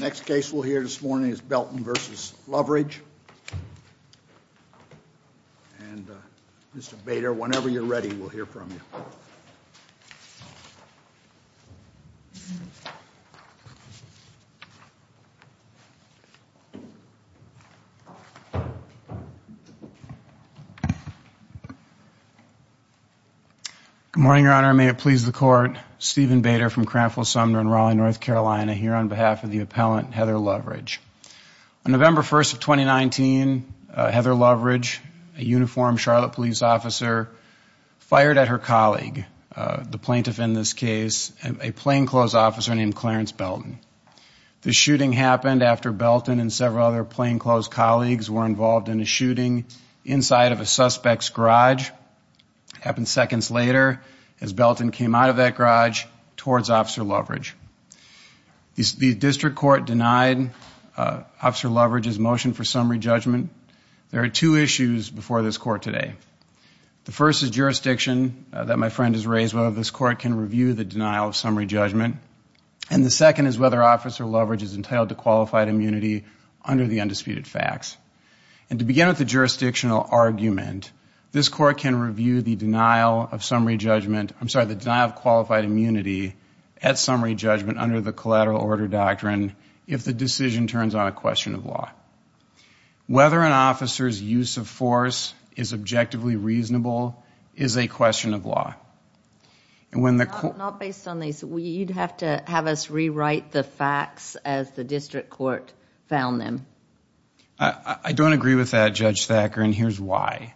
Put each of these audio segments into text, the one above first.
Next case we'll hear this morning is Belton v. Loveridge. And Mr. Bader, whenever you're ready, we'll hear from you. Good morning, Your Honor. May it please the Court. Stephen Bader from Cranfield-Sumner in Raleigh, North Carolina, here on behalf of the appellant Heather Loveridge. On November 1st of 2019, Heather Loveridge, a uniformed Charlotte police officer, fired at her colleague, the plaintiff in this case, a plainclothes officer named Clarence Belton. The shooting happened after Belton and several other plainclothes colleagues were involved in a shooting inside of a suspect's garage. It happened seconds later as Belton came out of that garage towards Officer Loveridge. The District Court denied Officer Loveridge's motion for summary judgment. There are two issues before this Court today. The first is jurisdiction that my friend has raised, whether this Court can review the denial of summary judgment. And the second is whether Officer Loveridge is entitled to qualified immunity under the undisputed facts. And to begin with the jurisdictional argument, this Court can review the denial of summary judgment, I'm sorry, the denial of qualified immunity at summary judgment under the collateral order doctrine if the decision turns on a question of law. Whether an officer's use of force is objectively reasonable is a question of law. Not based on these, you'd have to have us rewrite the facts as the District Court found them. I don't agree with that, Judge Thacker, and here's why.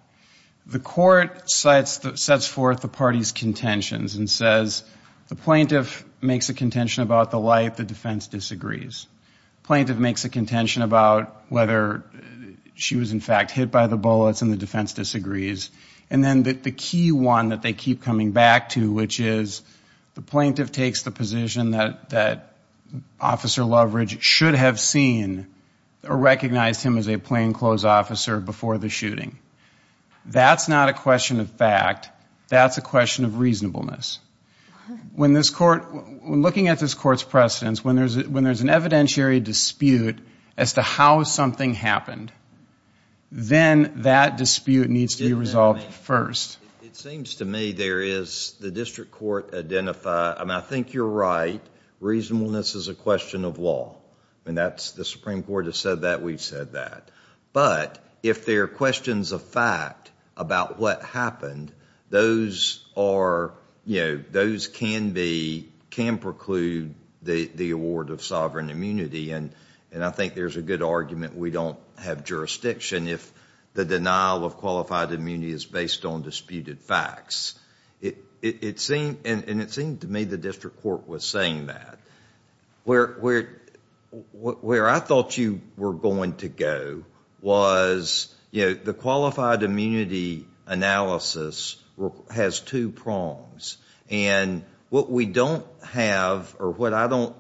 The Court sets forth the party's contentions and says the plaintiff makes a contention about the light, the defense disagrees. The plaintiff makes a contention about whether she was in fact hit by the bullets and the defense disagrees. And then the key one that they keep coming back to, which is the plaintiff takes the position that Officer Loveridge should have seen or recognized him as a plainclothes officer before the shooting. That's not a question of fact. That's a question of reasonableness. When looking at this Court's precedents, when there's an evidentiary dispute as to how something happened, then that dispute needs to be resolved first. It seems to me there is, the District Court identified, I think you're right, reasonableness is a question of law. The Supreme Court has said that, we've said that. But if there are questions of fact about what happened, those can preclude the award of sovereign immunity. And I think there's a good argument we don't have jurisdiction if the denial of qualified immunity is based on disputed facts. And it seemed to me the District Court was saying that. Where I thought you were going to go was, you know, the qualified immunity analysis has two prongs. And what we don't have, or what I don't,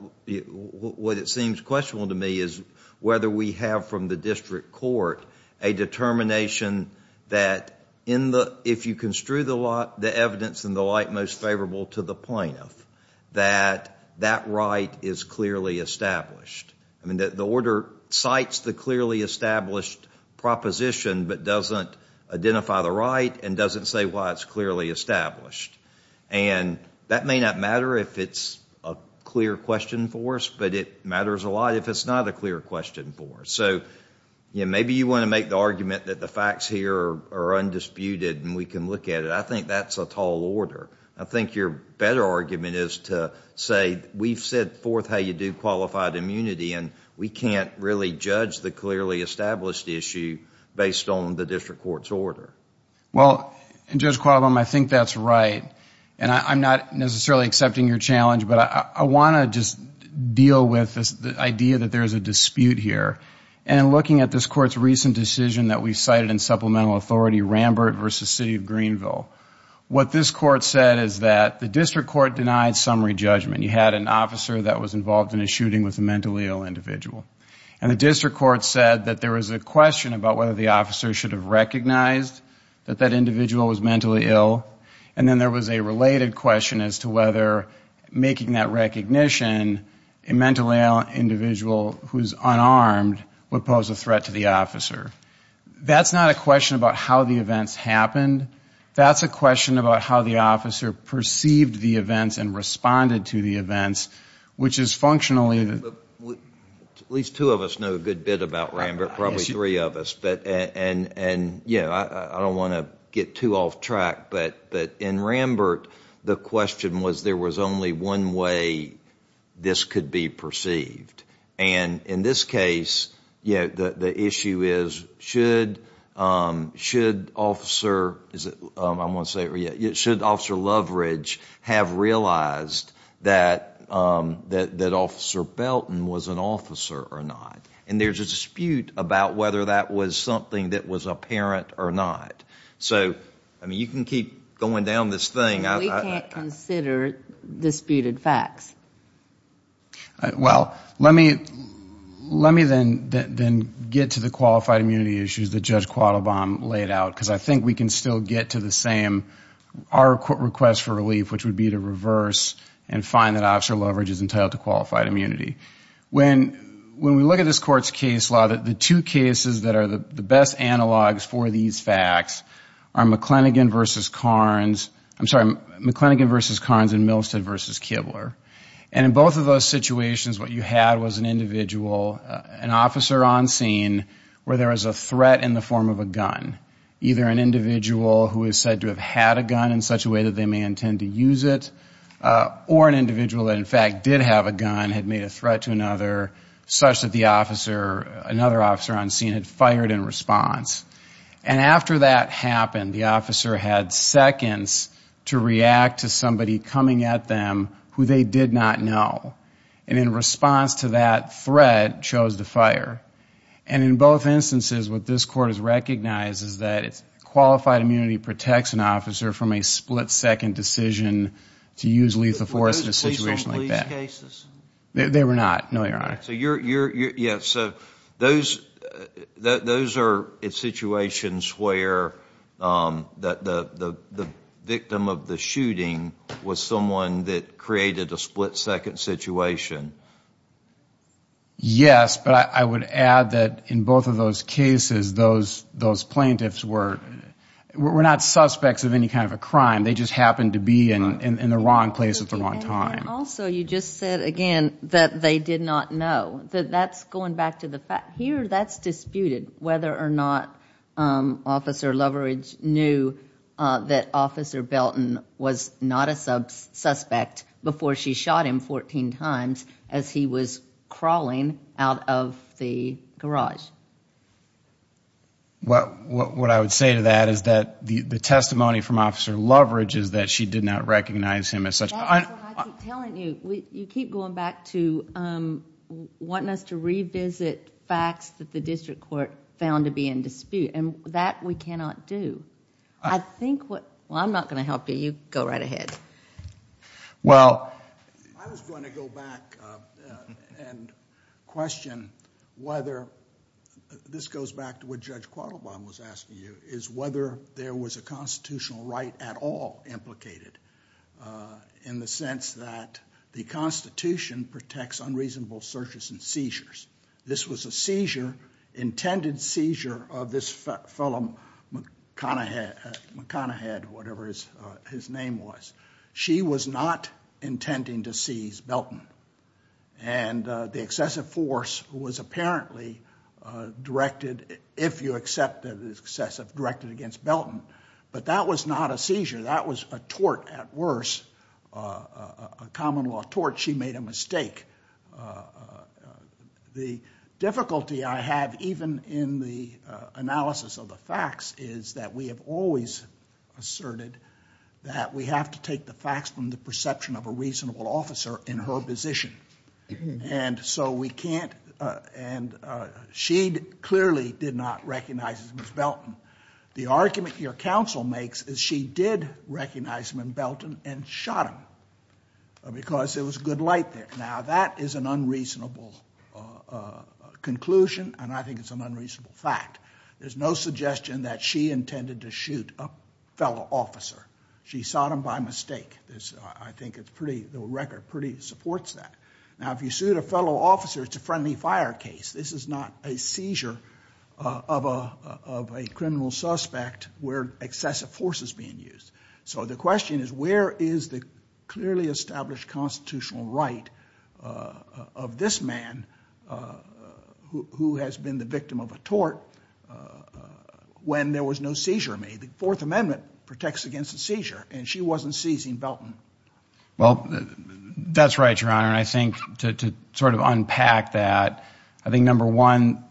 what it seems questionable to me is whether we have from the District Court a determination that in the, if you construe the evidence and the like most favorable to the plaintiff, that that right is clearly established. I mean, the order cites the clearly established proposition but doesn't identify the right and doesn't say why it's clearly established. And that may not matter if it's a clear question for us, but it matters a lot if it's not a clear question for us. So, you know, maybe you want to make the argument that the facts here are undisputed and we can look at it. I think that's a tall order. I think your better argument is to say we've set forth how you do qualified immunity and we can't really judge the clearly established issue based on the District Court's order. Well, Judge Qualam, I think that's right. And I'm not necessarily accepting your challenge, but I want to just deal with the idea that there's a dispute here. And looking at this Court's recent decision that we cited in Supplemental Authority, Rambert v. City of Greenville, what this Court said is that the District Court denied summary judgment. You had an officer that was involved in a shooting with a mentally ill individual. And the District Court said that there was a question about whether the officer should have recognized that that individual was mentally ill. And then there was a related question as to whether making that recognition, a mentally ill individual who's unarmed would pose a threat to the officer. That's not a question about how the events happened. That's a question about how the officer perceived the events and responded to the events, which is functionally. At least two of us know a good bit about Rambert, probably three of us. I don't want to get too off track, but in Rambert, the question was there was only one way this could be perceived. And in this case, the issue is should Officer Loveridge have realized that Officer Belton was an officer or not? And there's a dispute about whether that was something that was apparent or not. So, I mean, you can keep going down this thing. We can't consider disputed facts. Well, let me then get to the qualified immunity issues that Judge Quattlebaum laid out, because I think we can still get to the same, our request for relief, which would be to reverse and find that Officer Loveridge is entitled to qualified immunity. When we look at this Court's case law, the two cases that are the best analogs for these facts are McLennigan v. Carnes, I'm sorry, McLennigan v. Carnes and Milstead v. Kibler. And in both of those situations, what you had was an individual, an officer on scene, where there was a threat in the form of a gun. Either an individual who is said to have had a gun in such a way that they may intend to use it, or an individual that, in fact, did have a gun, had made a threat to another, such that the officer, another officer on scene, had fired in response. And after that happened, the officer had seconds to react to somebody coming at them who they did not know. And in response to that threat, chose to fire. And in both instances, what this Court has recognized is that qualified immunity protects an officer from a split-second decision to use lethal force in a situation like that. Were those police-on-police cases? They were not, no, Your Honor. So those are situations where the victim of the shooting was someone that created a split-second situation. Yes, but I would add that in both of those cases, those plaintiffs were not suspects of any kind of a crime. They just happened to be in the wrong place at the wrong time. And also, you just said again that they did not know. That's going back to the fact, here that's disputed, whether or not Officer Loveridge knew that Officer Belton was not a suspect before she shot him 14 times as he was crawling out of the garage. What I would say to that is that the testimony from Officer Loveridge is that she did not recognize him as such. That's what I keep telling you. You keep going back to wanting us to revisit facts that the District Court found to be in dispute. And that we cannot do. Well, I'm not going to help you. You go right ahead. Well, I was going to go back and question whether, this goes back to what Judge Quattlebaum was asking you, is whether there was a constitutional right at all implicated in the sense that the Constitution protects unreasonable searches and seizures. This was a seizure, intended seizure, of this fellow McConaughey, whatever his name was. She was not intending to seize Belton. And the excessive force was apparently directed, if you accept it as excessive, directed against Belton. But that was not a seizure. That was a tort at worse, a common law tort. She made a mistake. The difficulty I have, even in the analysis of the facts, is that we have always asserted that we have to take the facts from the perception of a reasonable officer in her position. And so we can't, and she clearly did not recognize him as Belton. The argument your counsel makes is she did recognize him as Belton and shot him. Because there was good light there. Now, that is an unreasonable conclusion, and I think it's an unreasonable fact. There's no suggestion that she intended to shoot a fellow officer. She shot him by mistake. I think it's pretty, the record pretty supports that. Now, if you shoot a fellow officer, it's a friendly fire case. This is not a seizure of a criminal suspect where excessive force is being used. So the question is, where is the clearly established constitutional right of this man, who has been the victim of a tort, when there was no seizure made? The Fourth Amendment protects against a seizure, and she wasn't seizing Belton. Well, that's right, Your Honor, and I think to sort of unpack that, I think, number one,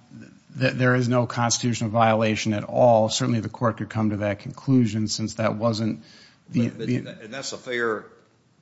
there is no constitutional violation at all. Certainly, the court could come to that conclusion, since that wasn't the... And that's a fair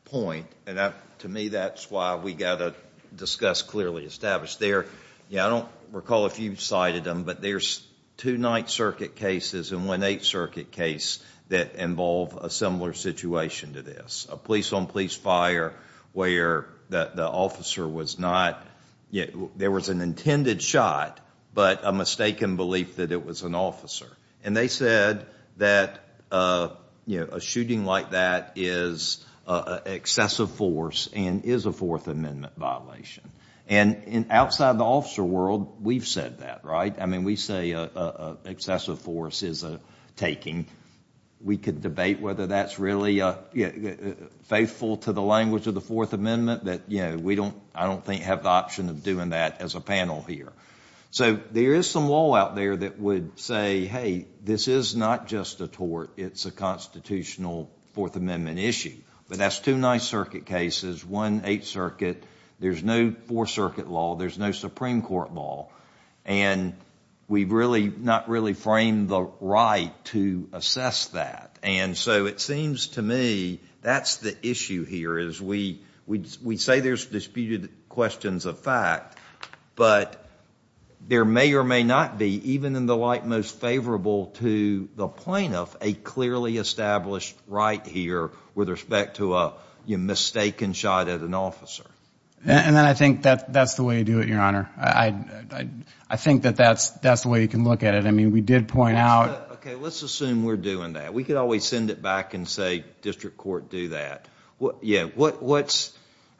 point, and to me, that's why we've got to discuss clearly established. There, I don't recall if you've cited them, but there's two Ninth Circuit cases and one Eighth Circuit case that involve a similar situation to this. A police-on-police fire where the officer was not, there was an intended shot, but a mistaken belief that it was an officer. And they said that a shooting like that is excessive force and is a Fourth Amendment violation. And outside the officer world, we've said that, right? I mean, we say excessive force is a taking. We could debate whether that's really faithful to the language of the Fourth Amendment, but we don't, I don't think, have the option of doing that as a panel here. So there is some law out there that would say, hey, this is not just a tort. It's a constitutional Fourth Amendment issue. But that's two Ninth Circuit cases, one Eighth Circuit. There's no Fourth Circuit law. There's no Supreme Court law. And we've really not really framed the right to assess that. And so it seems to me that's the issue here is we say there's disputed questions of fact, but there may or may not be, even in the light most favorable to the plaintiff, a clearly established right here with respect to a mistaken shot at an officer. And I think that's the way to do it, Your Honor. I think that that's the way you can look at it. I mean, we did point out. Okay. Let's assume we're doing that. We could always send it back and say district court, do that. What's,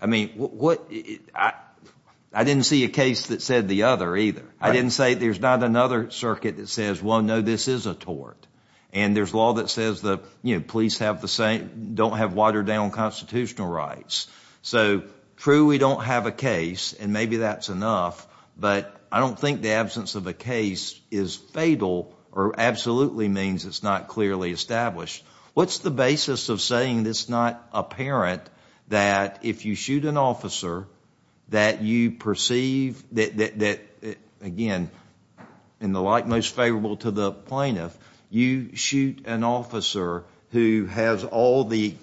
I mean, what, I didn't see a case that said the other either. I didn't say there's not another circuit that says, well, no, this is a tort. And there's law that says the police have the same, don't have watered-down constitutional rights. So true, we don't have a case, and maybe that's enough, but I don't think the absence of a case is fatal or absolutely means it's not clearly established. What's the basis of saying it's not apparent that if you shoot an officer that you perceive that, again, in the light most favorable to the plaintiff, you shoot an officer who has all the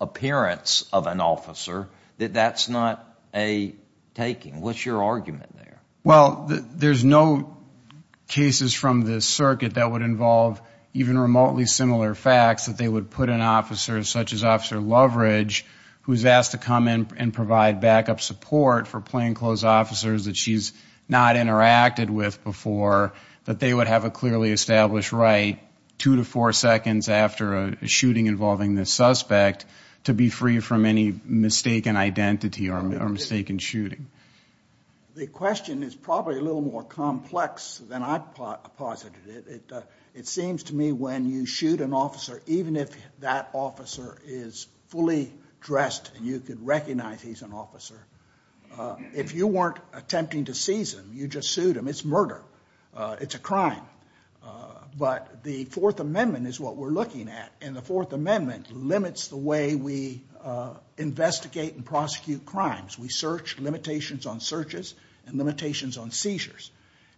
appearance of an officer, that that's not a taking? What's your argument there? Well, there's no cases from this circuit that would involve even remotely similar facts that they would put an officer, such as Officer Loveridge, who's asked to come in and provide backup support for plainclothes officers that she's not interacted with before, that they would have a clearly established right two to four seconds after a shooting involving this suspect to be free from any mistaken identity or mistaken shooting. The question is probably a little more complex than I posited. It seems to me when you shoot an officer, even if that officer is fully dressed and you can recognize he's an officer, if you weren't attempting to seize him, you just sued him. It's murder. It's a crime. But the Fourth Amendment is what we're looking at, and the Fourth Amendment limits the way we investigate and prosecute crimes. We search, limitations on searches and limitations on seizures.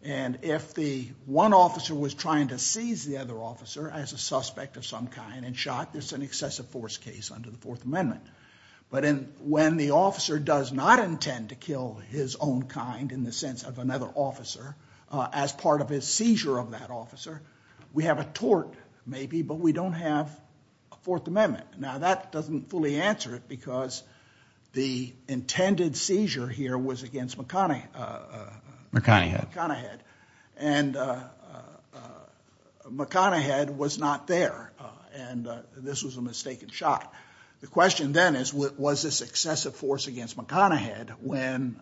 And if the one officer was trying to seize the other officer as a suspect of some kind and shot, there's an excessive force case under the Fourth Amendment. But when the officer does not intend to kill his own kind in the sense of another officer as part of his seizure of that officer, we have a tort maybe, but we don't have a Fourth Amendment. Now that doesn't fully answer it because the intended seizure here was against McConaughey. McConaughey. McConaughey. And McConaughey was not there, and this was a mistaken shot. The question then is was this excessive force against McConaughey when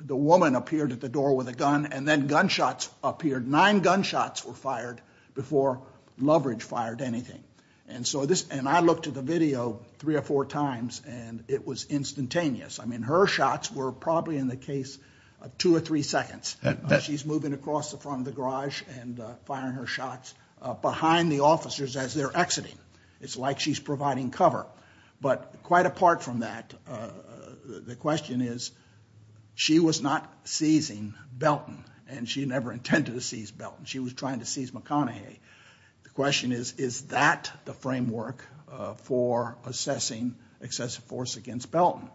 the woman appeared at the door with a gun and then gunshots appeared. Nine gunshots were fired before Loveridge fired anything. And I looked at the video three or four times, and it was instantaneous. I mean, her shots were probably in the case of two or three seconds. She's moving across the front of the garage and firing her shots behind the officers as they're exiting. It's like she's providing cover. But quite apart from that, the question is she was not seizing Belton, and she never intended to seize Belton. She was trying to seize McConaughey. The question is, is that the framework for assessing excessive force against Belton?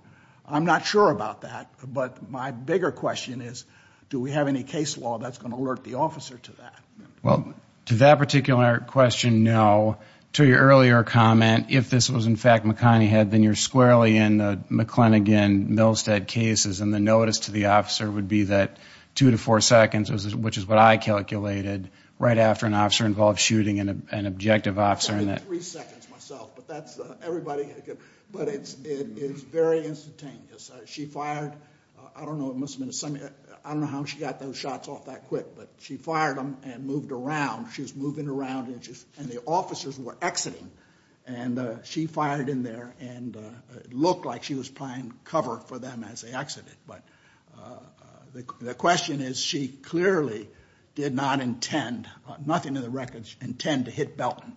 I'm not sure about that, but my bigger question is do we have any case law that's going to alert the officer to that? Well, to that particular question, no. To your earlier comment, if this was in fact McConaughey, then you're squarely in the McClennagan-Millstead cases, and the notice to the officer would be that two to four seconds, which is what I calculated right after an officer involved shooting an objective officer. But it's very instantaneous. She fired, I don't know how she got those shots off that quick, but she fired them and moved around. She was moving around, and the officers were exiting. And she fired in there, and it looked like she was providing cover for them as they exited. But the question is she clearly did not intend, nothing in the records, intend to hit Belton.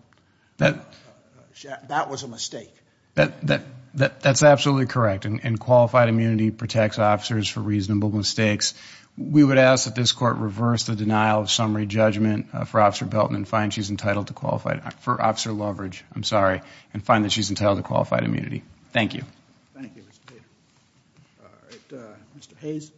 That was a mistake. That's absolutely correct, and qualified immunity protects officers for reasonable mistakes. We would ask that this court reverse the denial of summary judgment for Officer Belton and find she's entitled to qualified, for Officer Loveridge, I'm sorry, and find that she's entitled to qualified immunity. Thank you. Thank you, Mr. Taylor. All right, Mr. Hayes.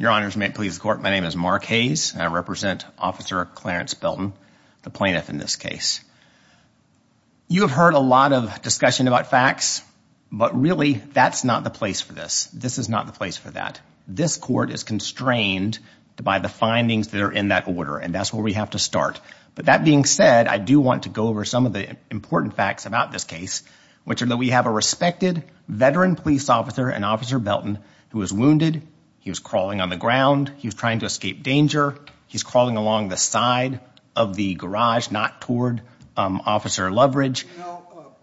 Your Honor, please escort. My name is Mark Hayes, and I represent Officer Clarence Belton, the plaintiff in this case. You have heard a lot of discussion about facts, but really that's not the place for this. This is not the place for that. In fact, this court is constrained by the findings that are in that order, and that's where we have to start. But that being said, I do want to go over some of the important facts about this case, which are that we have a respected veteran police officer and Officer Belton who was wounded. He was crawling on the ground. He was trying to escape danger. He's crawling along the side of the garage, not toward Officer Loveridge.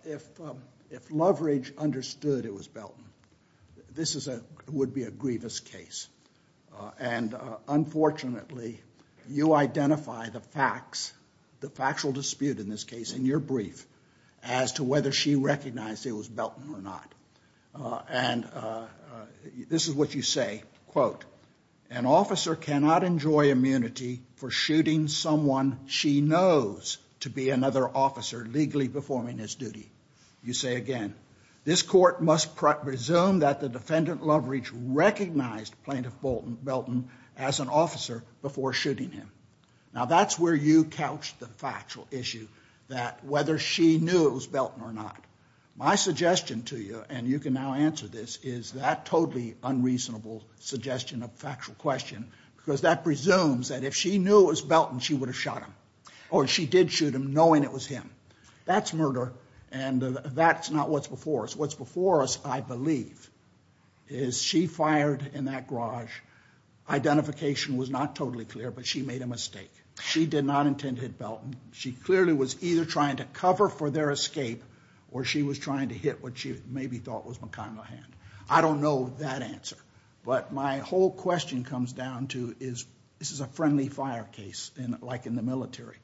If Loveridge understood it was Belton, this would be a grievous case. And unfortunately, you identify the facts, the factual dispute in this case in your brief, as to whether she recognized it was Belton or not. And this is what you say, quote, An officer cannot enjoy immunity for shooting someone she knows to be another officer legally performing his duty. You say again, Now that's where you couch the factual issue that whether she knew it was Belton or not. My suggestion to you, and you can now answer this, is that totally unreasonable suggestion of factual question, because that presumes that if she knew it was Belton, she would have shot him. Or she did shoot him, knowing it was him. That's murder, and that's not what's before us. What's before us, I believe, is she fired in that garage. Identification was not totally clear, but she made a mistake. She did not intend to hit Belton. She clearly was either trying to cover for their escape, or she was trying to hit what she maybe thought was McConaughey. I don't know that answer. But my whole question comes down to, this is a friendly fire case, like in the military.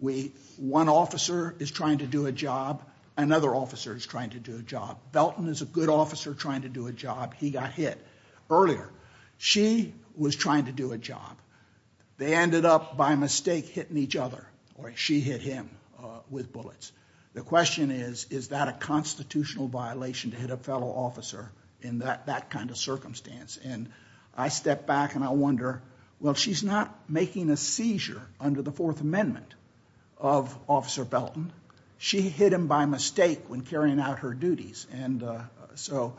One officer is trying to do a job. Another officer is trying to do a job. Belton is a good officer trying to do a job. He got hit earlier. She was trying to do a job. They ended up, by mistake, hitting each other. Or she hit him with bullets. The question is, is that a constitutional violation to hit a fellow officer in that kind of circumstance? And I step back and I wonder, well, she's not making a seizure under the Fourth Amendment of Officer Belton. She hit him by mistake when carrying out her duties. And so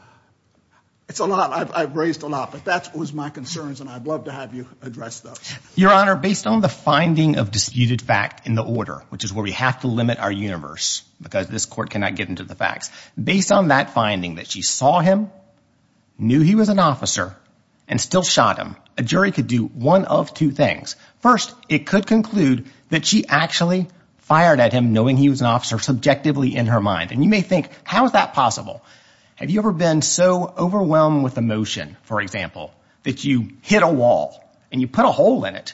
it's a lot. I've raised a lot. But that was my concerns, and I'd love to have you address those. Your Honor, based on the finding of disputed fact in the order, which is where we have to limit our universe because this court cannot get into the facts, based on that finding that she saw him, knew he was an officer, and still shot him, a jury could do one of two things. First, it could conclude that she actually fired at him knowing he was an officer subjectively in her mind. And you may think, how is that possible? Have you ever been so overwhelmed with emotion, for example, that you hit a wall and you put a hole in it?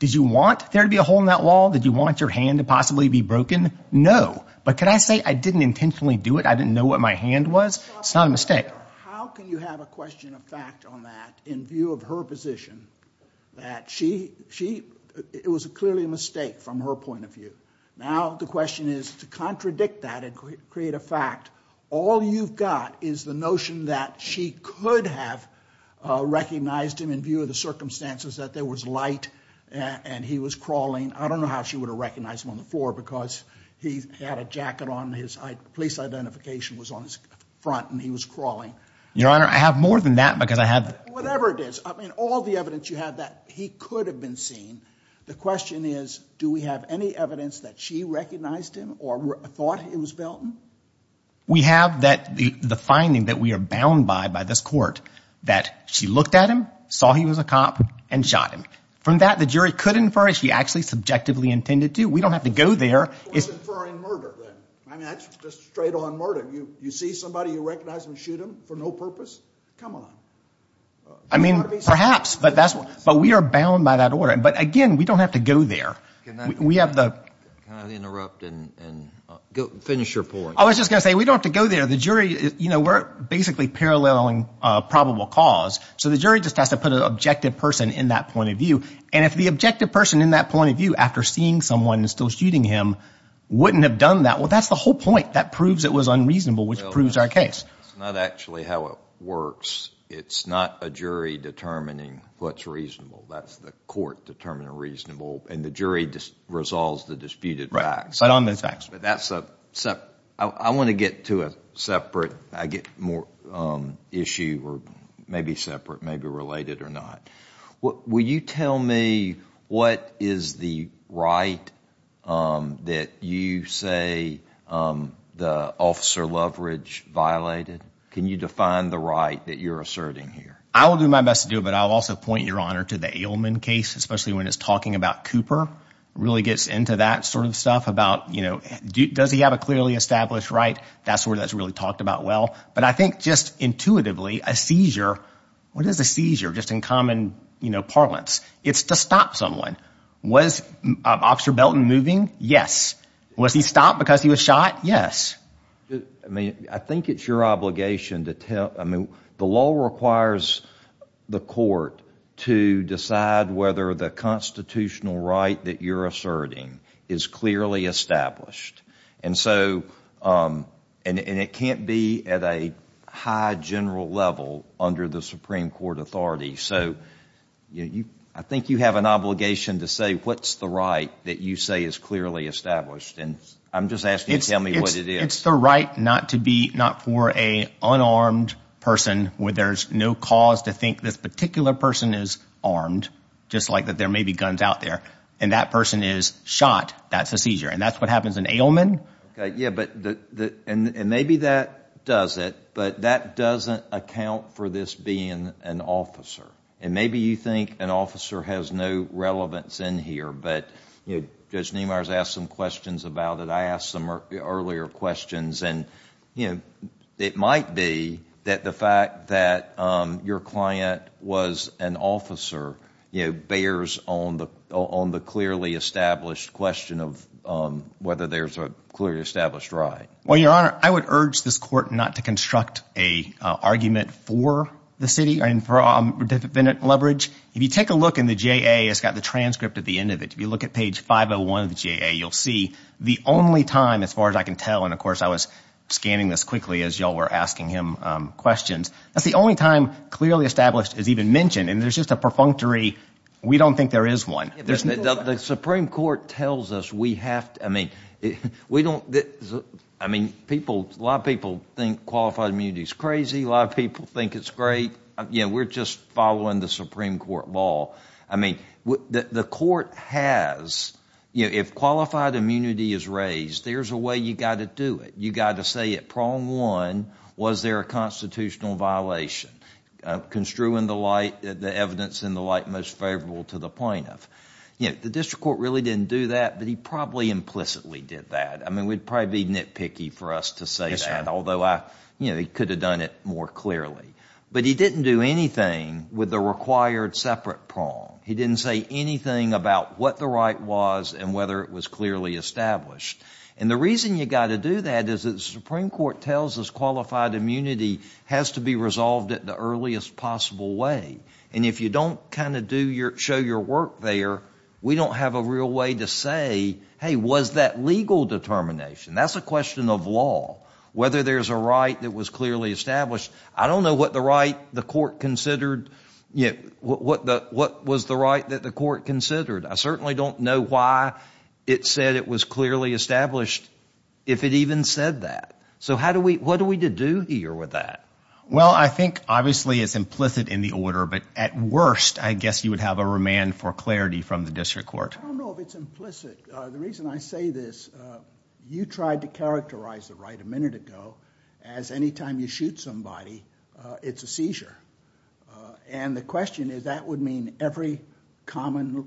Did you want there to be a hole in that wall? Did you want your hand to possibly be broken? No. But could I say I didn't intentionally do it? I didn't know what my hand was? It's not a mistake. How can you have a question of fact on that in view of her position? It was clearly a mistake from her point of view. Now the question is to contradict that and create a fact. All you've got is the notion that she could have recognized him in view of the circumstances, that there was light and he was crawling. I don't know how she would have recognized him on the floor because he had a jacket on. His police identification was on his front and he was crawling. Your Honor, I have more than that because I had the— Whatever it is. I mean, all the evidence you have that he could have been seen. The question is, do we have any evidence that she recognized him or thought it was Belton? We have the finding that we are bound by by this court that she looked at him, saw he was a cop, and shot him. From that, the jury could infer she actually subjectively intended to. We don't have to go there. Who is inferring murder then? I mean, that's just straight-on murder. You see somebody, you recognize them, shoot them for no purpose? Come on. I mean, perhaps, but we are bound by that order. But, again, we don't have to go there. Can I interrupt and finish your point? I was just going to say, we don't have to go there. The jury, you know, we are basically paralleling probable cause. So the jury just has to put an objective person in that point of view. And if the objective person in that point of view, after seeing someone and still shooting him, wouldn't have done that, well, that's the whole point. That proves it was unreasonable, which proves our case. It's not actually how it works. It's not a jury determining what's reasonable. That's the court determining reasonable. And the jury just resolves the disputed facts. But on the facts. But that's a separate – I want to get to a separate issue, or maybe separate, maybe related or not. Will you tell me what is the right that you say the officer leverage violated? Can you define the right that you're asserting here? I will do my best to do it, but I'll also point, Your Honor, to the Ailman case, especially when it's talking about Cooper. Really gets into that sort of stuff about, you know, does he have a clearly established right? That's where that's really talked about well. But I think just intuitively, a seizure – what is a seizure? Just in common, you know, parlance. It's to stop someone. Was Officer Belton moving? Yes. Was he stopped because he was shot? Yes. I mean, I think it's your obligation to tell – I mean, the law requires the court to decide whether the constitutional right that you're asserting is clearly established. And so – and it can't be at a high general level under the Supreme Court authority. So I think you have an obligation to say what's the right that you say is clearly established. And I'm just asking you to tell me what it is. It's the right not to be – not for an unarmed person where there's no cause to think this particular person is armed, just like that there may be guns out there, and that person is shot, that's a seizure. And that's what happens in Ailman. Yeah, but – and maybe that does it, but that doesn't account for this being an officer. And maybe you think an officer has no relevance in here, but Judge Niemeyer has asked some questions about it. I asked some earlier questions. And it might be that the fact that your client was an officer bears on the clearly established question of whether there's a clearly established right. Well, Your Honor, I would urge this court not to construct an argument for the city and for defendant leverage. If you take a look in the JA, it's got the transcript at the end of it. If you look at page 501 of the JA, you'll see the only time, as far as I can tell, and of course I was scanning this quickly as you all were asking him questions, that's the only time clearly established is even mentioned. And there's just a perfunctory we don't think there is one. The Supreme Court tells us we have to – I mean, we don't – I mean, people – a lot of people think qualified immunity is crazy. A lot of people think it's great. We're just following the Supreme Court law. I mean, the court has – if qualified immunity is raised, there's a way you've got to do it. You've got to say at prong one, was there a constitutional violation? Construe in the light the evidence in the light most favorable to the plaintiff. The district court really didn't do that, but he probably implicitly did that. I mean, we'd probably be nitpicky for us to say that, although he could have done it more clearly. But he didn't do anything with the required separate prong. He didn't say anything about what the right was and whether it was clearly established. And the reason you've got to do that is the Supreme Court tells us qualified immunity has to be resolved at the earliest possible way. And if you don't kind of do your – show your work there, we don't have a real way to say, hey, was that legal determination? That's a question of law, whether there's a right that was clearly established. I don't know what the right the court considered – what was the right that the court considered. I certainly don't know why it said it was clearly established if it even said that. So how do we – what are we to do here with that? Well, I think obviously it's implicit in the order. But at worst, I guess you would have a remand for clarity from the district court. I don't know if it's implicit. The reason I say this, you tried to characterize the right a minute ago as anytime you shoot somebody, it's a seizure. And the question is that would mean every common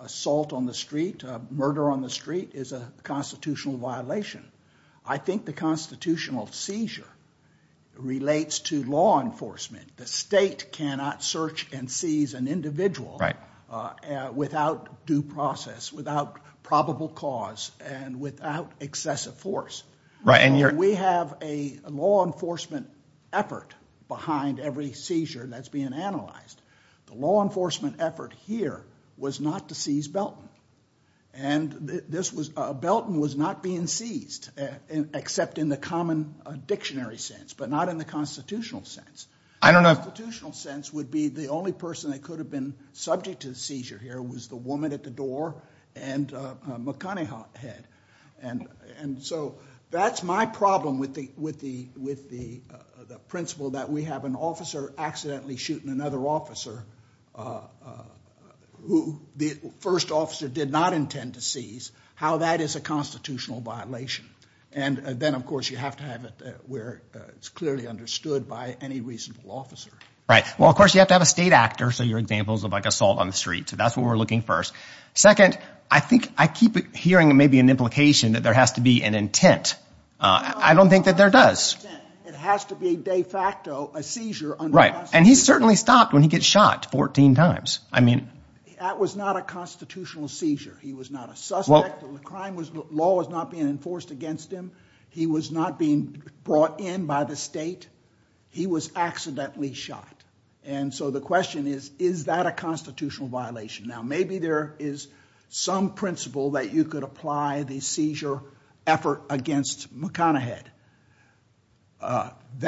assault on the street, murder on the street, is a constitutional violation. I think the constitutional seizure relates to law enforcement. The state cannot search and seize an individual without due process, without probable cause, and without excessive force. We have a law enforcement effort behind every seizure that's being analyzed. The law enforcement effort here was not to seize Belton. And this was – Belton was not being seized, except in the common dictionary sense, but not in the constitutional sense. The constitutional sense would be the only person that could have been subject to the seizure here was the woman at the door and McConaghy head. And so that's my problem with the principle that we have an officer accidentally shooting another officer who the first officer did not intend to seize, how that is a constitutional violation. And then, of course, you have to have it where it's clearly understood by any reasonable officer. Right. Well, of course, you have to have a state actor. So your example is like assault on the street. So that's what we're looking for. Second, I think I keep hearing maybe an implication that there has to be an intent. I don't think that there does. It has to be de facto a seizure. Right. And he certainly stopped when he got shot 14 times. I mean – That was not a constitutional seizure. He was not a suspect. The law was not being enforced against him. He was not being brought in by the state. He was accidentally shot. And so the question is, is that a constitutional violation? Now, maybe there is some principle that you could apply the seizure effort against McConaughey head.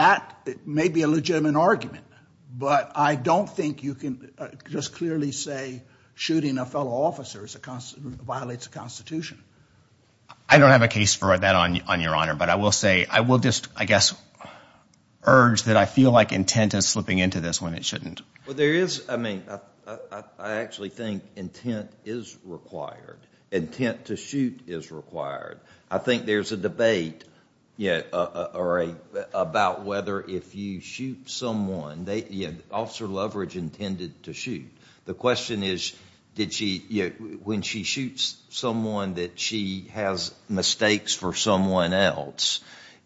That may be a legitimate argument, but I don't think you can just clearly say shooting a fellow officer violates the Constitution. I don't have a case for that, Your Honor, but I will say – I will just, I guess, urge that I feel like intent is slipping into this when it shouldn't. Well, there is – I mean, I actually think intent is required. Intent to shoot is required. I think there is a debate about whether if you shoot someone, officer leverage intended to shoot. The question is, when she shoots someone, that she has mistakes for someone else.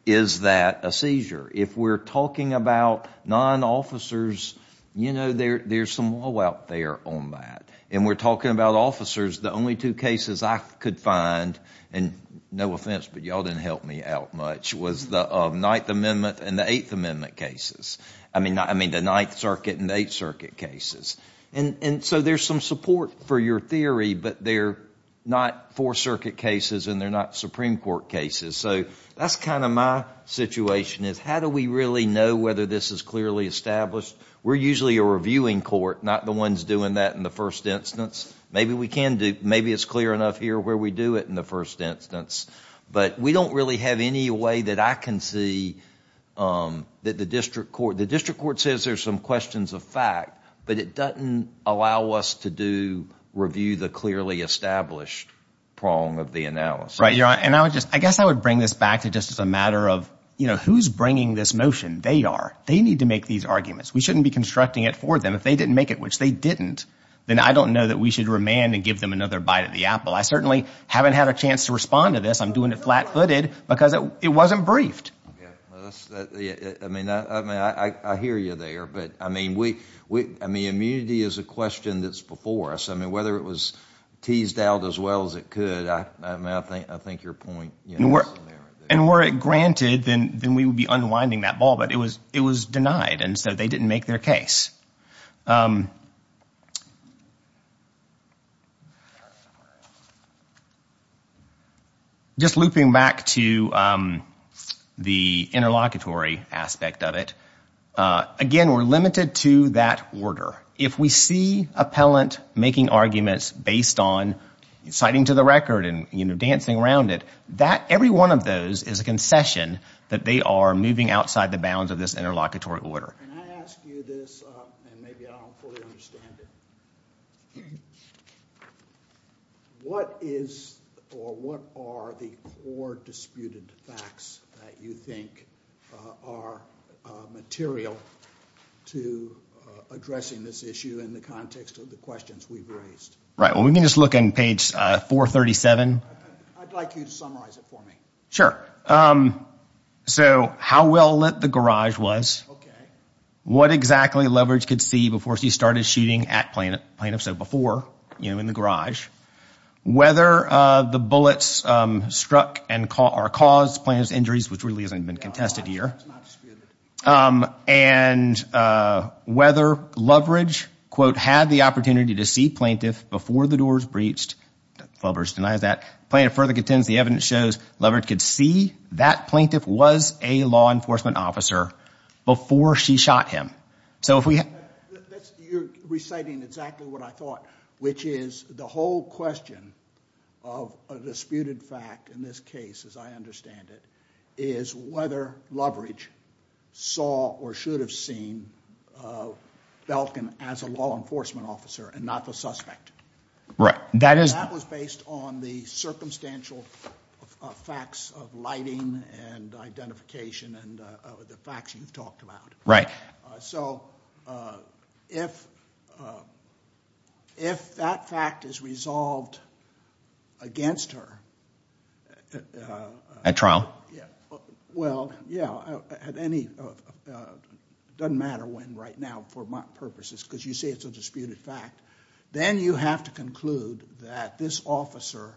Is that a seizure? If we're talking about non-officers, you know, there is some woe out there on that. And we're talking about officers. The only two cases I could find – and no offense, but you all didn't help me out much – was the Ninth Amendment and the Eighth Amendment cases. I mean, the Ninth Circuit and the Eighth Circuit cases. And so there is some support for your theory, but they're not Fourth Circuit cases and they're not Supreme Court cases. So that's kind of my situation is, how do we really know whether this is clearly established? We're usually a reviewing court, not the ones doing that in the first instance. Maybe we can do – maybe it's clear enough here where we do it in the first instance. But we don't really have any way that I can see that the district court – the district court says there's some questions of fact, but it doesn't allow us to do – review the clearly established prong of the analysis. Right, Your Honor. And I would just – I guess I would bring this back to just as a matter of, you know, who's bringing this motion? They are. They need to make these arguments. We shouldn't be constructing it for them. If they didn't make it, which they didn't, then I don't know that we should remand and give them another bite of the apple. I certainly haven't had a chance to respond to this. I'm doing it flat-footed because it wasn't briefed. Okay. I mean, I hear you there. But, I mean, we – I mean, immunity is a question that's before us. I mean, whether it was teased out as well as it could, I mean, I think your point is there. And were it granted, then we would be unwinding that ball. But it was denied, and so they didn't make their case. Just looping back to the interlocutory aspect of it, again, we're limited to that order. If we see appellant making arguments based on citing to the record and, you know, dancing around it, every one of those is a concession that they are moving outside the bounds of this interlocutory order. Can I ask you this, and maybe I don't fully understand it? What is or what are the core disputed facts that you think are material to addressing this issue in the context of the questions we've raised? Right. Well, we can just look on page 437. I'd like you to summarize it for me. So how well lit the garage was. What exactly Loveridge could see before she started shooting at plaintiff, so before, you know, in the garage. Whether the bullets struck and – or caused plaintiff's injuries, which really hasn't been contested here. That's not disputed. And whether Loveridge, quote, had the opportunity to see plaintiff before the doors breached. Loveridge denies that. Plaintiff further contends the evidence shows Loveridge could see that plaintiff was a law enforcement officer before she shot him. So if we – You're reciting exactly what I thought, which is the whole question of a disputed fact in this case, as I understand it, is whether Loveridge saw or should have seen Belkin as a law enforcement officer and not the suspect. Right. That is – That was based on the circumstantial facts of lighting and identification and the facts you've talked about. Right. So if that fact is resolved against her – At trial? Yeah. Well, yeah, at any – doesn't matter when right now for my purposes because you say it's a disputed fact. Then you have to conclude that this officer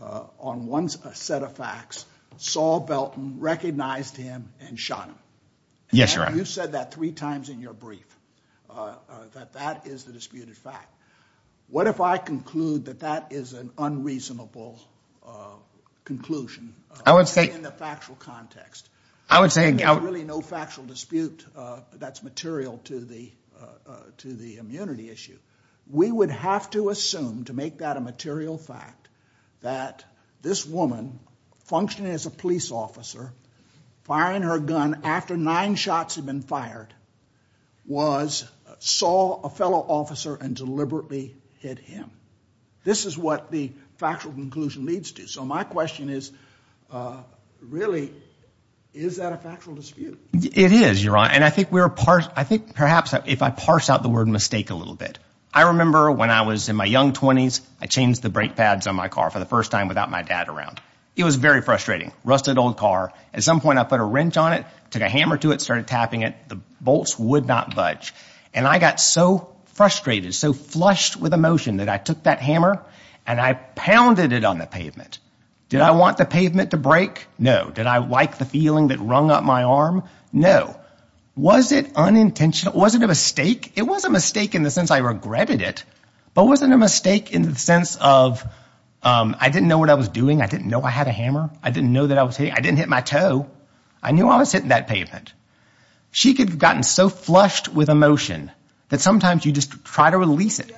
on one set of facts saw Belkin, recognized him, and shot him. Yes, Your Honor. And you said that three times in your brief, that that is the disputed fact. What if I conclude that that is an unreasonable conclusion? I would say – In the factual context. I would say – There's really no factual dispute that's material to the immunity issue. We would have to assume, to make that a material fact, that this woman, functioning as a police officer, firing her gun after nine shots had been fired, was – saw a fellow officer and deliberately hit him. This is what the factual conclusion leads to. So my question is, really, is that a factual dispute? It is, Your Honor. And I think we're – I think perhaps if I parse out the word mistake a little bit. I remember when I was in my young 20s, I changed the brake pads on my car for the first time without my dad around. It was very frustrating. Rusted old car. At some point I put a wrench on it, took a hammer to it, started tapping it. The bolts would not budge. And I got so frustrated, so flushed with emotion, that I took that hammer and I pounded it on the pavement. Did I want the pavement to break? No. Did I like the feeling that rung up my arm? No. Was it unintentional? Was it a mistake? It was a mistake in the sense I regretted it. But was it a mistake in the sense of I didn't know what I was doing? I didn't know I had a hammer? I didn't know that I was hitting – I didn't hit my toe. I knew I was hitting that pavement. She had gotten so flushed with emotion that sometimes you just try to release it.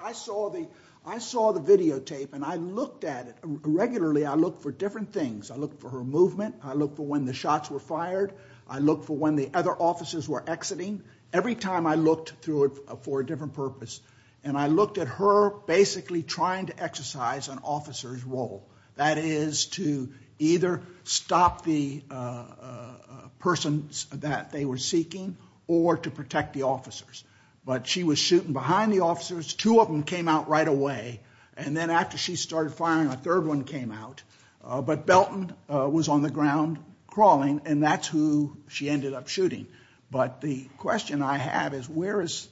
I saw the videotape and I looked at it. Regularly I look for different things. I look for her movement. I look for when the shots were fired. I look for when the other officers were exiting. Every time I looked for a different purpose. And I looked at her basically trying to exercise an officer's role. That is to either stop the person that they were seeking or to protect the officers. But she was shooting behind the officers. Two of them came out right away. And then after she started firing, a third one came out. But Belton was on the ground crawling, and that's who she ended up shooting. But the question I have is where is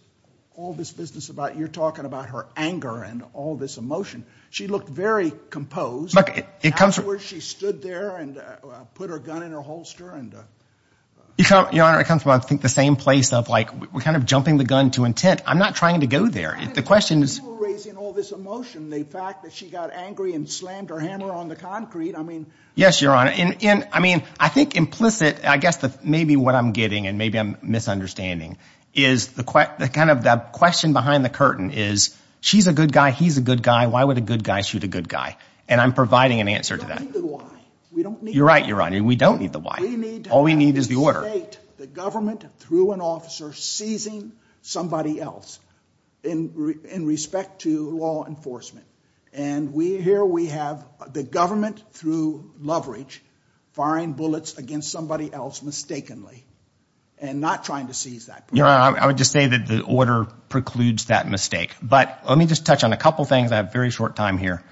all this business about – you're talking about her anger and all this emotion. She looked very composed. Afterwards she stood there and put her gun in her holster. Your Honor, it comes from I think the same place of like we're kind of jumping the gun to intent. I'm not trying to go there. The question is – You were raising all this emotion, the fact that she got angry and slammed her hammer on the concrete. Yes, Your Honor. I mean I think implicit, I guess maybe what I'm getting and maybe I'm misunderstanding, is kind of the question behind the curtain is she's a good guy, he's a good guy. Why would a good guy shoot a good guy? And I'm providing an answer to that. We don't need the why. You're right, Your Honor. We don't need the why. All we need is the order. We need to have the state, the government through an officer seizing somebody else in respect to law enforcement. And here we have the government through leverage firing bullets against somebody else mistakenly and not trying to seize that person. Your Honor, I would just say that the order precludes that mistake. But let me just touch on a couple things. I have a very short time here.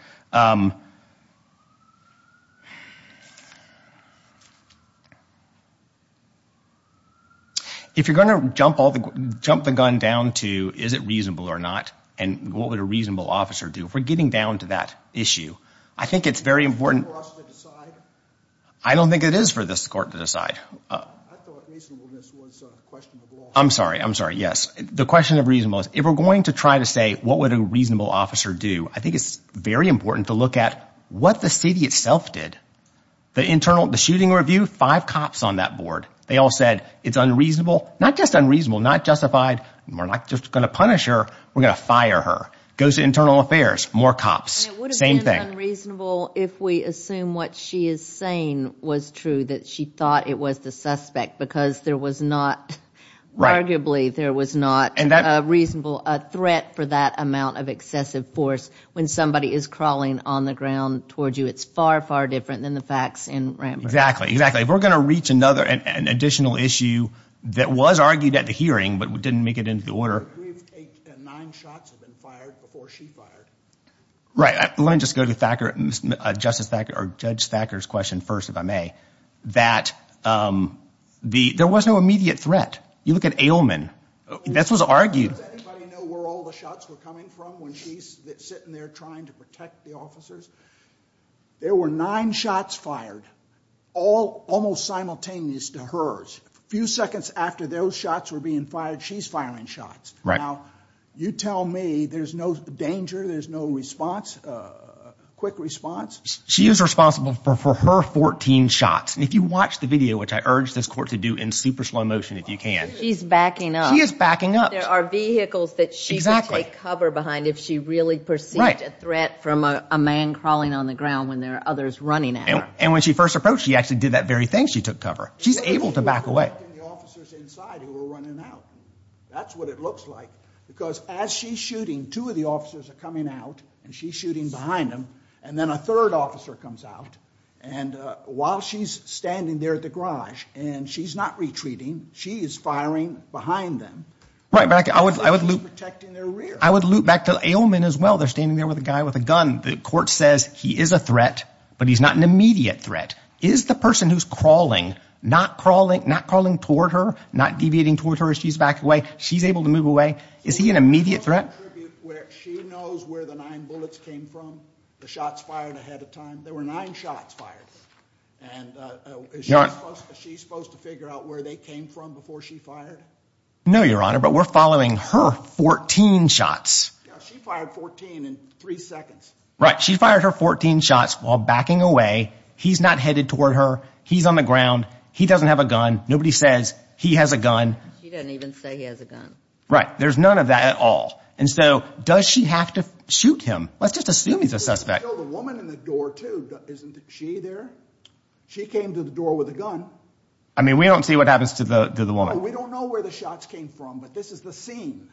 If you're going to jump the gun down to is it reasonable or not and what would a reasonable officer do, if we're getting down to that issue, I think it's very important – Is it for us to decide? I don't think it is for this court to decide. I thought reasonableness was a question of law. I'm sorry. I'm sorry. Yes. The question of reasonableness. If we're going to try to say what would a reasonable officer do, I think it's very important to look at what the city itself did. The shooting review, five cops on that board. They all said it's unreasonable. Not just unreasonable, not justified. We're not just going to punish her. We're going to fire her. It goes to internal affairs. More cops. Same thing. It would have been unreasonable if we assume what she is saying was true, that she thought it was the suspect because there was not – arguably there was not a reasonable threat for that amount of excessive force when somebody is crawling on the ground towards you. It's far, far different than the facts in Rambert. Exactly. Exactly. If we're going to reach another – an additional issue that was argued at the hearing but didn't make it into the order – I believe nine shots have been fired before she fired. Right. Let me just go to Justice Thacker – or Judge Thacker's question first, if I may, that there was no immediate threat. You look at Ailman. This was argued. Does anybody know where all the shots were coming from when she's sitting there trying to protect the officers? There were nine shots fired, almost simultaneous to hers. A few seconds after those shots were being fired, she's firing shots. Right. Now, you tell me there's no danger, there's no response, quick response. She is responsible for her 14 shots. And if you watch the video, which I urge this court to do in super slow motion if you can. She's backing up. She is backing up. There are vehicles that she could take cover behind if she really perceived a threat from a man crawling on the ground when there are others running at her. And when she first approached, she actually did that very thing. She took cover. She's able to back away. She's protecting the officers inside who are running out. That's what it looks like. Because as she's shooting, two of the officers are coming out, and she's shooting behind them. And then a third officer comes out. And while she's standing there at the garage and she's not retreating, she is firing behind them. She's protecting their rear. I would loop back to Ailman as well. They're standing there with a guy with a gun. The court says he is a threat, but he's not an immediate threat. Is the person who's crawling, not crawling toward her, not deviating toward her as she's backing away, she's able to move away? Is he an immediate threat? She knows where the nine bullets came from, the shots fired ahead of time. There were nine shots fired. And is she supposed to figure out where they came from before she fired? No, Your Honor, but we're following her 14 shots. She fired 14 in three seconds. Right. She fired her 14 shots while backing away. He's not headed toward her. He's on the ground. He doesn't have a gun. Nobody says he has a gun. She doesn't even say he has a gun. Right. There's none of that at all. And so does she have to shoot him? Let's just assume he's a suspect. The woman in the door too, isn't she there? She came to the door with a gun. I mean, we don't see what happens to the woman. No, we don't know where the shots came from, but this is the scene.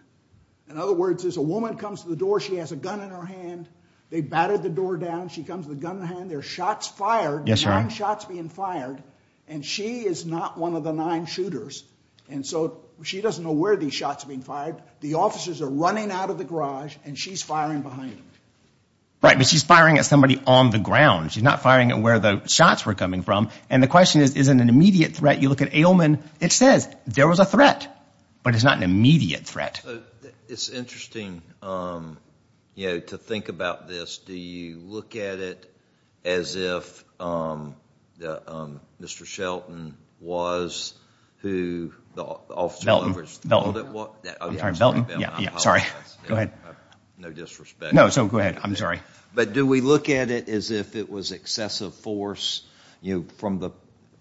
In other words, there's a woman comes to the door. She has a gun in her hand. They batted the door down. She comes with a gun in her hand. There's shots fired. Yes, sir. Nine shots being fired, and she is not one of the nine shooters. And so she doesn't know where these shots are being fired. The officers are running out of the garage, and she's firing behind them. Right, but she's firing at somebody on the ground. She's not firing at where the shots were coming from. And the question is, is it an immediate threat? You look at Ailman. It says there was a threat, but it's not an immediate threat. It's interesting to think about this. Do you look at it as if Mr. Shelton was who Officer Loveridge thought it was? I'm sorry, Belton. I apologize. Go ahead. No disrespect. No, so go ahead. I'm sorry. But do we look at it as if it was excessive force, from the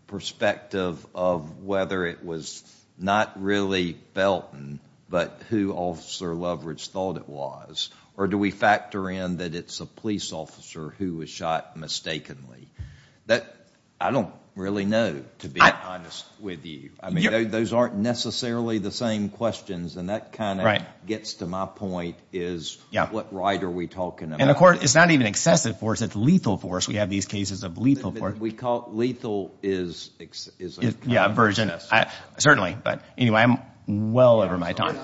perspective of whether it was not really Belton, but who Officer Loveridge thought it was? Or do we factor in that it's a police officer who was shot mistakenly? I don't really know, to be honest with you. I mean, those aren't necessarily the same questions, and that kind of gets to my point, is what right are we talking about? And, of course, it's not even excessive force. It's lethal force. We have these cases of lethal force. Lethal is a kind of version. Certainly. But anyway, I'm well over my time.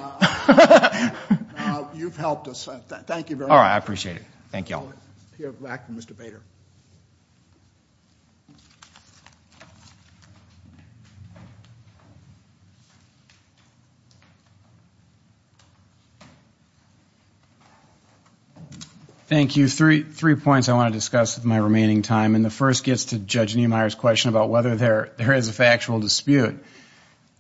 You've helped us. Thank you very much. I appreciate it. Thank you all. We'll hear back from Mr. Bader. Thank you. Three points I want to discuss with my remaining time, and the first gets to Judge Niemeyer's question about whether there is a factual dispute.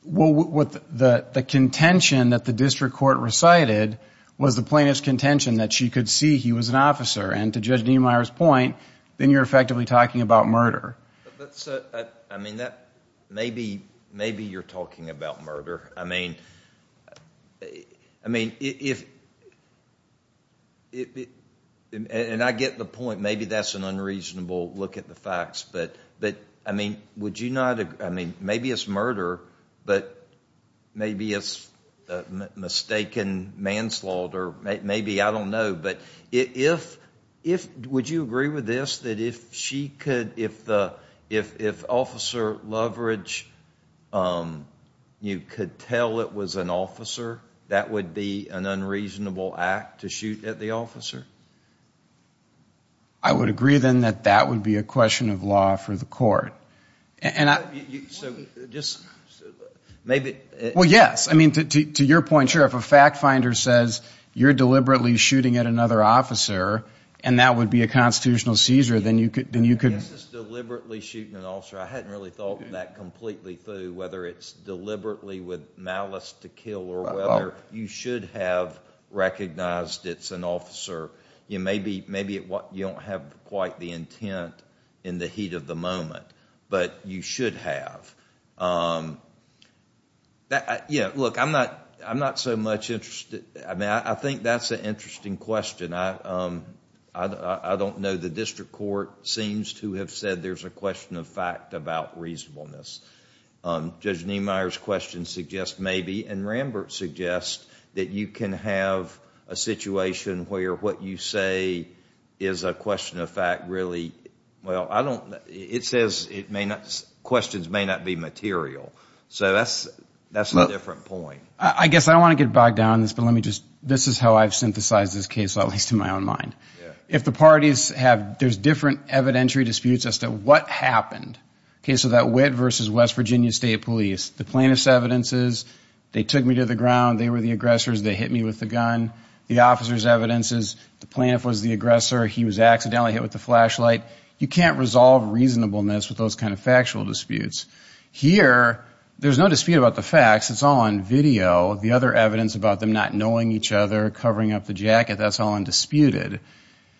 Well, the contention that the district court recited was the plaintiff's contention that she could see he was an officer, and to Judge Niemeyer's point, then you're effectively talking about murder. Maybe you're talking about murder. And I get the point. Maybe that's an unreasonable look at the facts, but, I mean, maybe it's murder, but maybe it's mistaken manslaughter. Maybe. I don't know. But would you agree with this, that if Officer Loveridge, you could tell it was an officer, that would be an unreasonable act to shoot at the officer? I would agree, then, that that would be a question of law for the court. Well, yes. I mean, to your point, sure. If a fact finder says you're deliberately shooting at another officer and that would be a constitutional seizure, then you could. I guess it's deliberately shooting an officer. I hadn't really thought of that completely through, whether it's deliberately with malice to kill or whether you should have recognized it's an officer. Maybe you don't have quite the intent in the heat of the moment, but you should have. Look, I'm not so much interested... I mean, I think that's an interesting question. I don't know. The district court seems to have said there's a question of fact about reasonableness. Judge Niemeyer's question suggests maybe, and Rambert suggests that you can have a situation where what you say is a question of fact really... Well, I don't... It says questions may not be material. So that's a different point. I guess I don't want to get bogged down in this, but this is how I've synthesized this case, at least in my own mind. If the parties have... There's different evidentiary disputes as to what happened. So that Witt v. West Virginia State Police, the plaintiff's evidence is they took me to the ground, they were the aggressors, they hit me with the gun. The officer's evidence is the plaintiff was the aggressor, he was accidentally hit with the flashlight. You can't resolve reasonableness with those kind of factual disputes. Here, there's no dispute about the facts. It's all on video. The other evidence about them not knowing each other, covering up the jacket, that's all undisputed.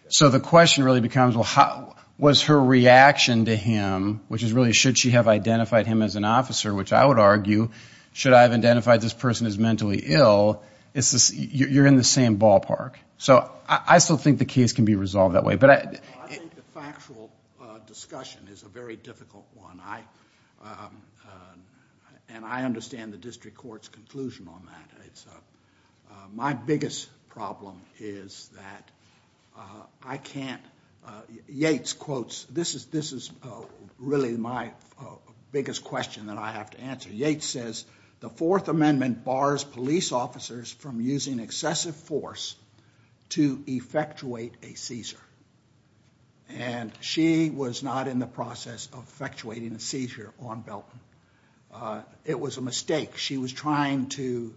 So the question really becomes, well, was her reaction to him, which is really should she have identified him as an officer, which I would argue, should I have identified this person as mentally ill, you're in the same ballpark. So I still think the case can be resolved that way. I think the factual discussion is a very difficult one, and I understand the district court's conclusion on that. My biggest problem is that I can't... This is really my biggest question that I have to answer. Yates says the Fourth Amendment bars police officers from using excessive force to effectuate a seizure, and she was not in the process of effectuating a seizure on Belton. It was a mistake. She was trying to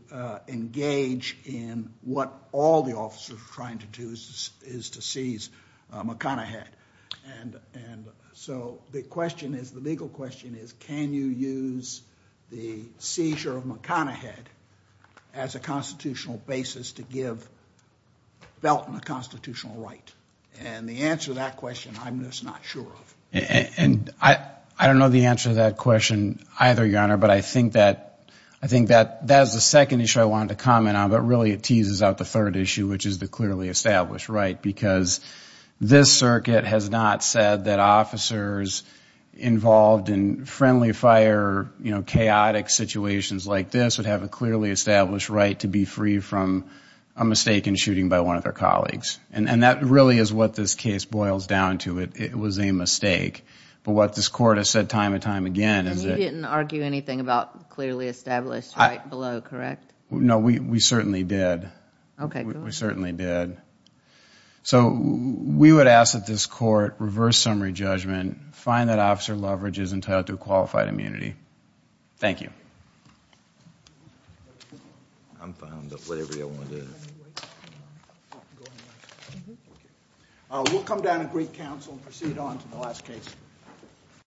engage in what all the officers were trying to do is to seize McConaughey. And so the question is, the legal question is, can you use the seizure of McConaughey as a constitutional basis to give Belton a constitutional right? And the answer to that question I'm just not sure of. And I don't know the answer to that question either, Your Honor, but I think that that is the second issue I wanted to comment on, but really it teases out the third issue, which is the clearly established right, because this circuit has not said that officers involved in friendly fire, chaotic situations like this would have a clearly established right to be free from a mistake in shooting by one of their colleagues. And that really is what this case boils down to. It was a mistake. But what this Court has said time and time again... And you didn't argue anything about clearly established right below, correct? No, we certainly did. Okay, good. We certainly did. So we would ask that this Court reverse summary judgment, find that Officer Loveridge is entitled to a qualified immunity. Thank you. I'm fine with whatever you want to do. We'll come down and greet counsel and proceed on to the last case.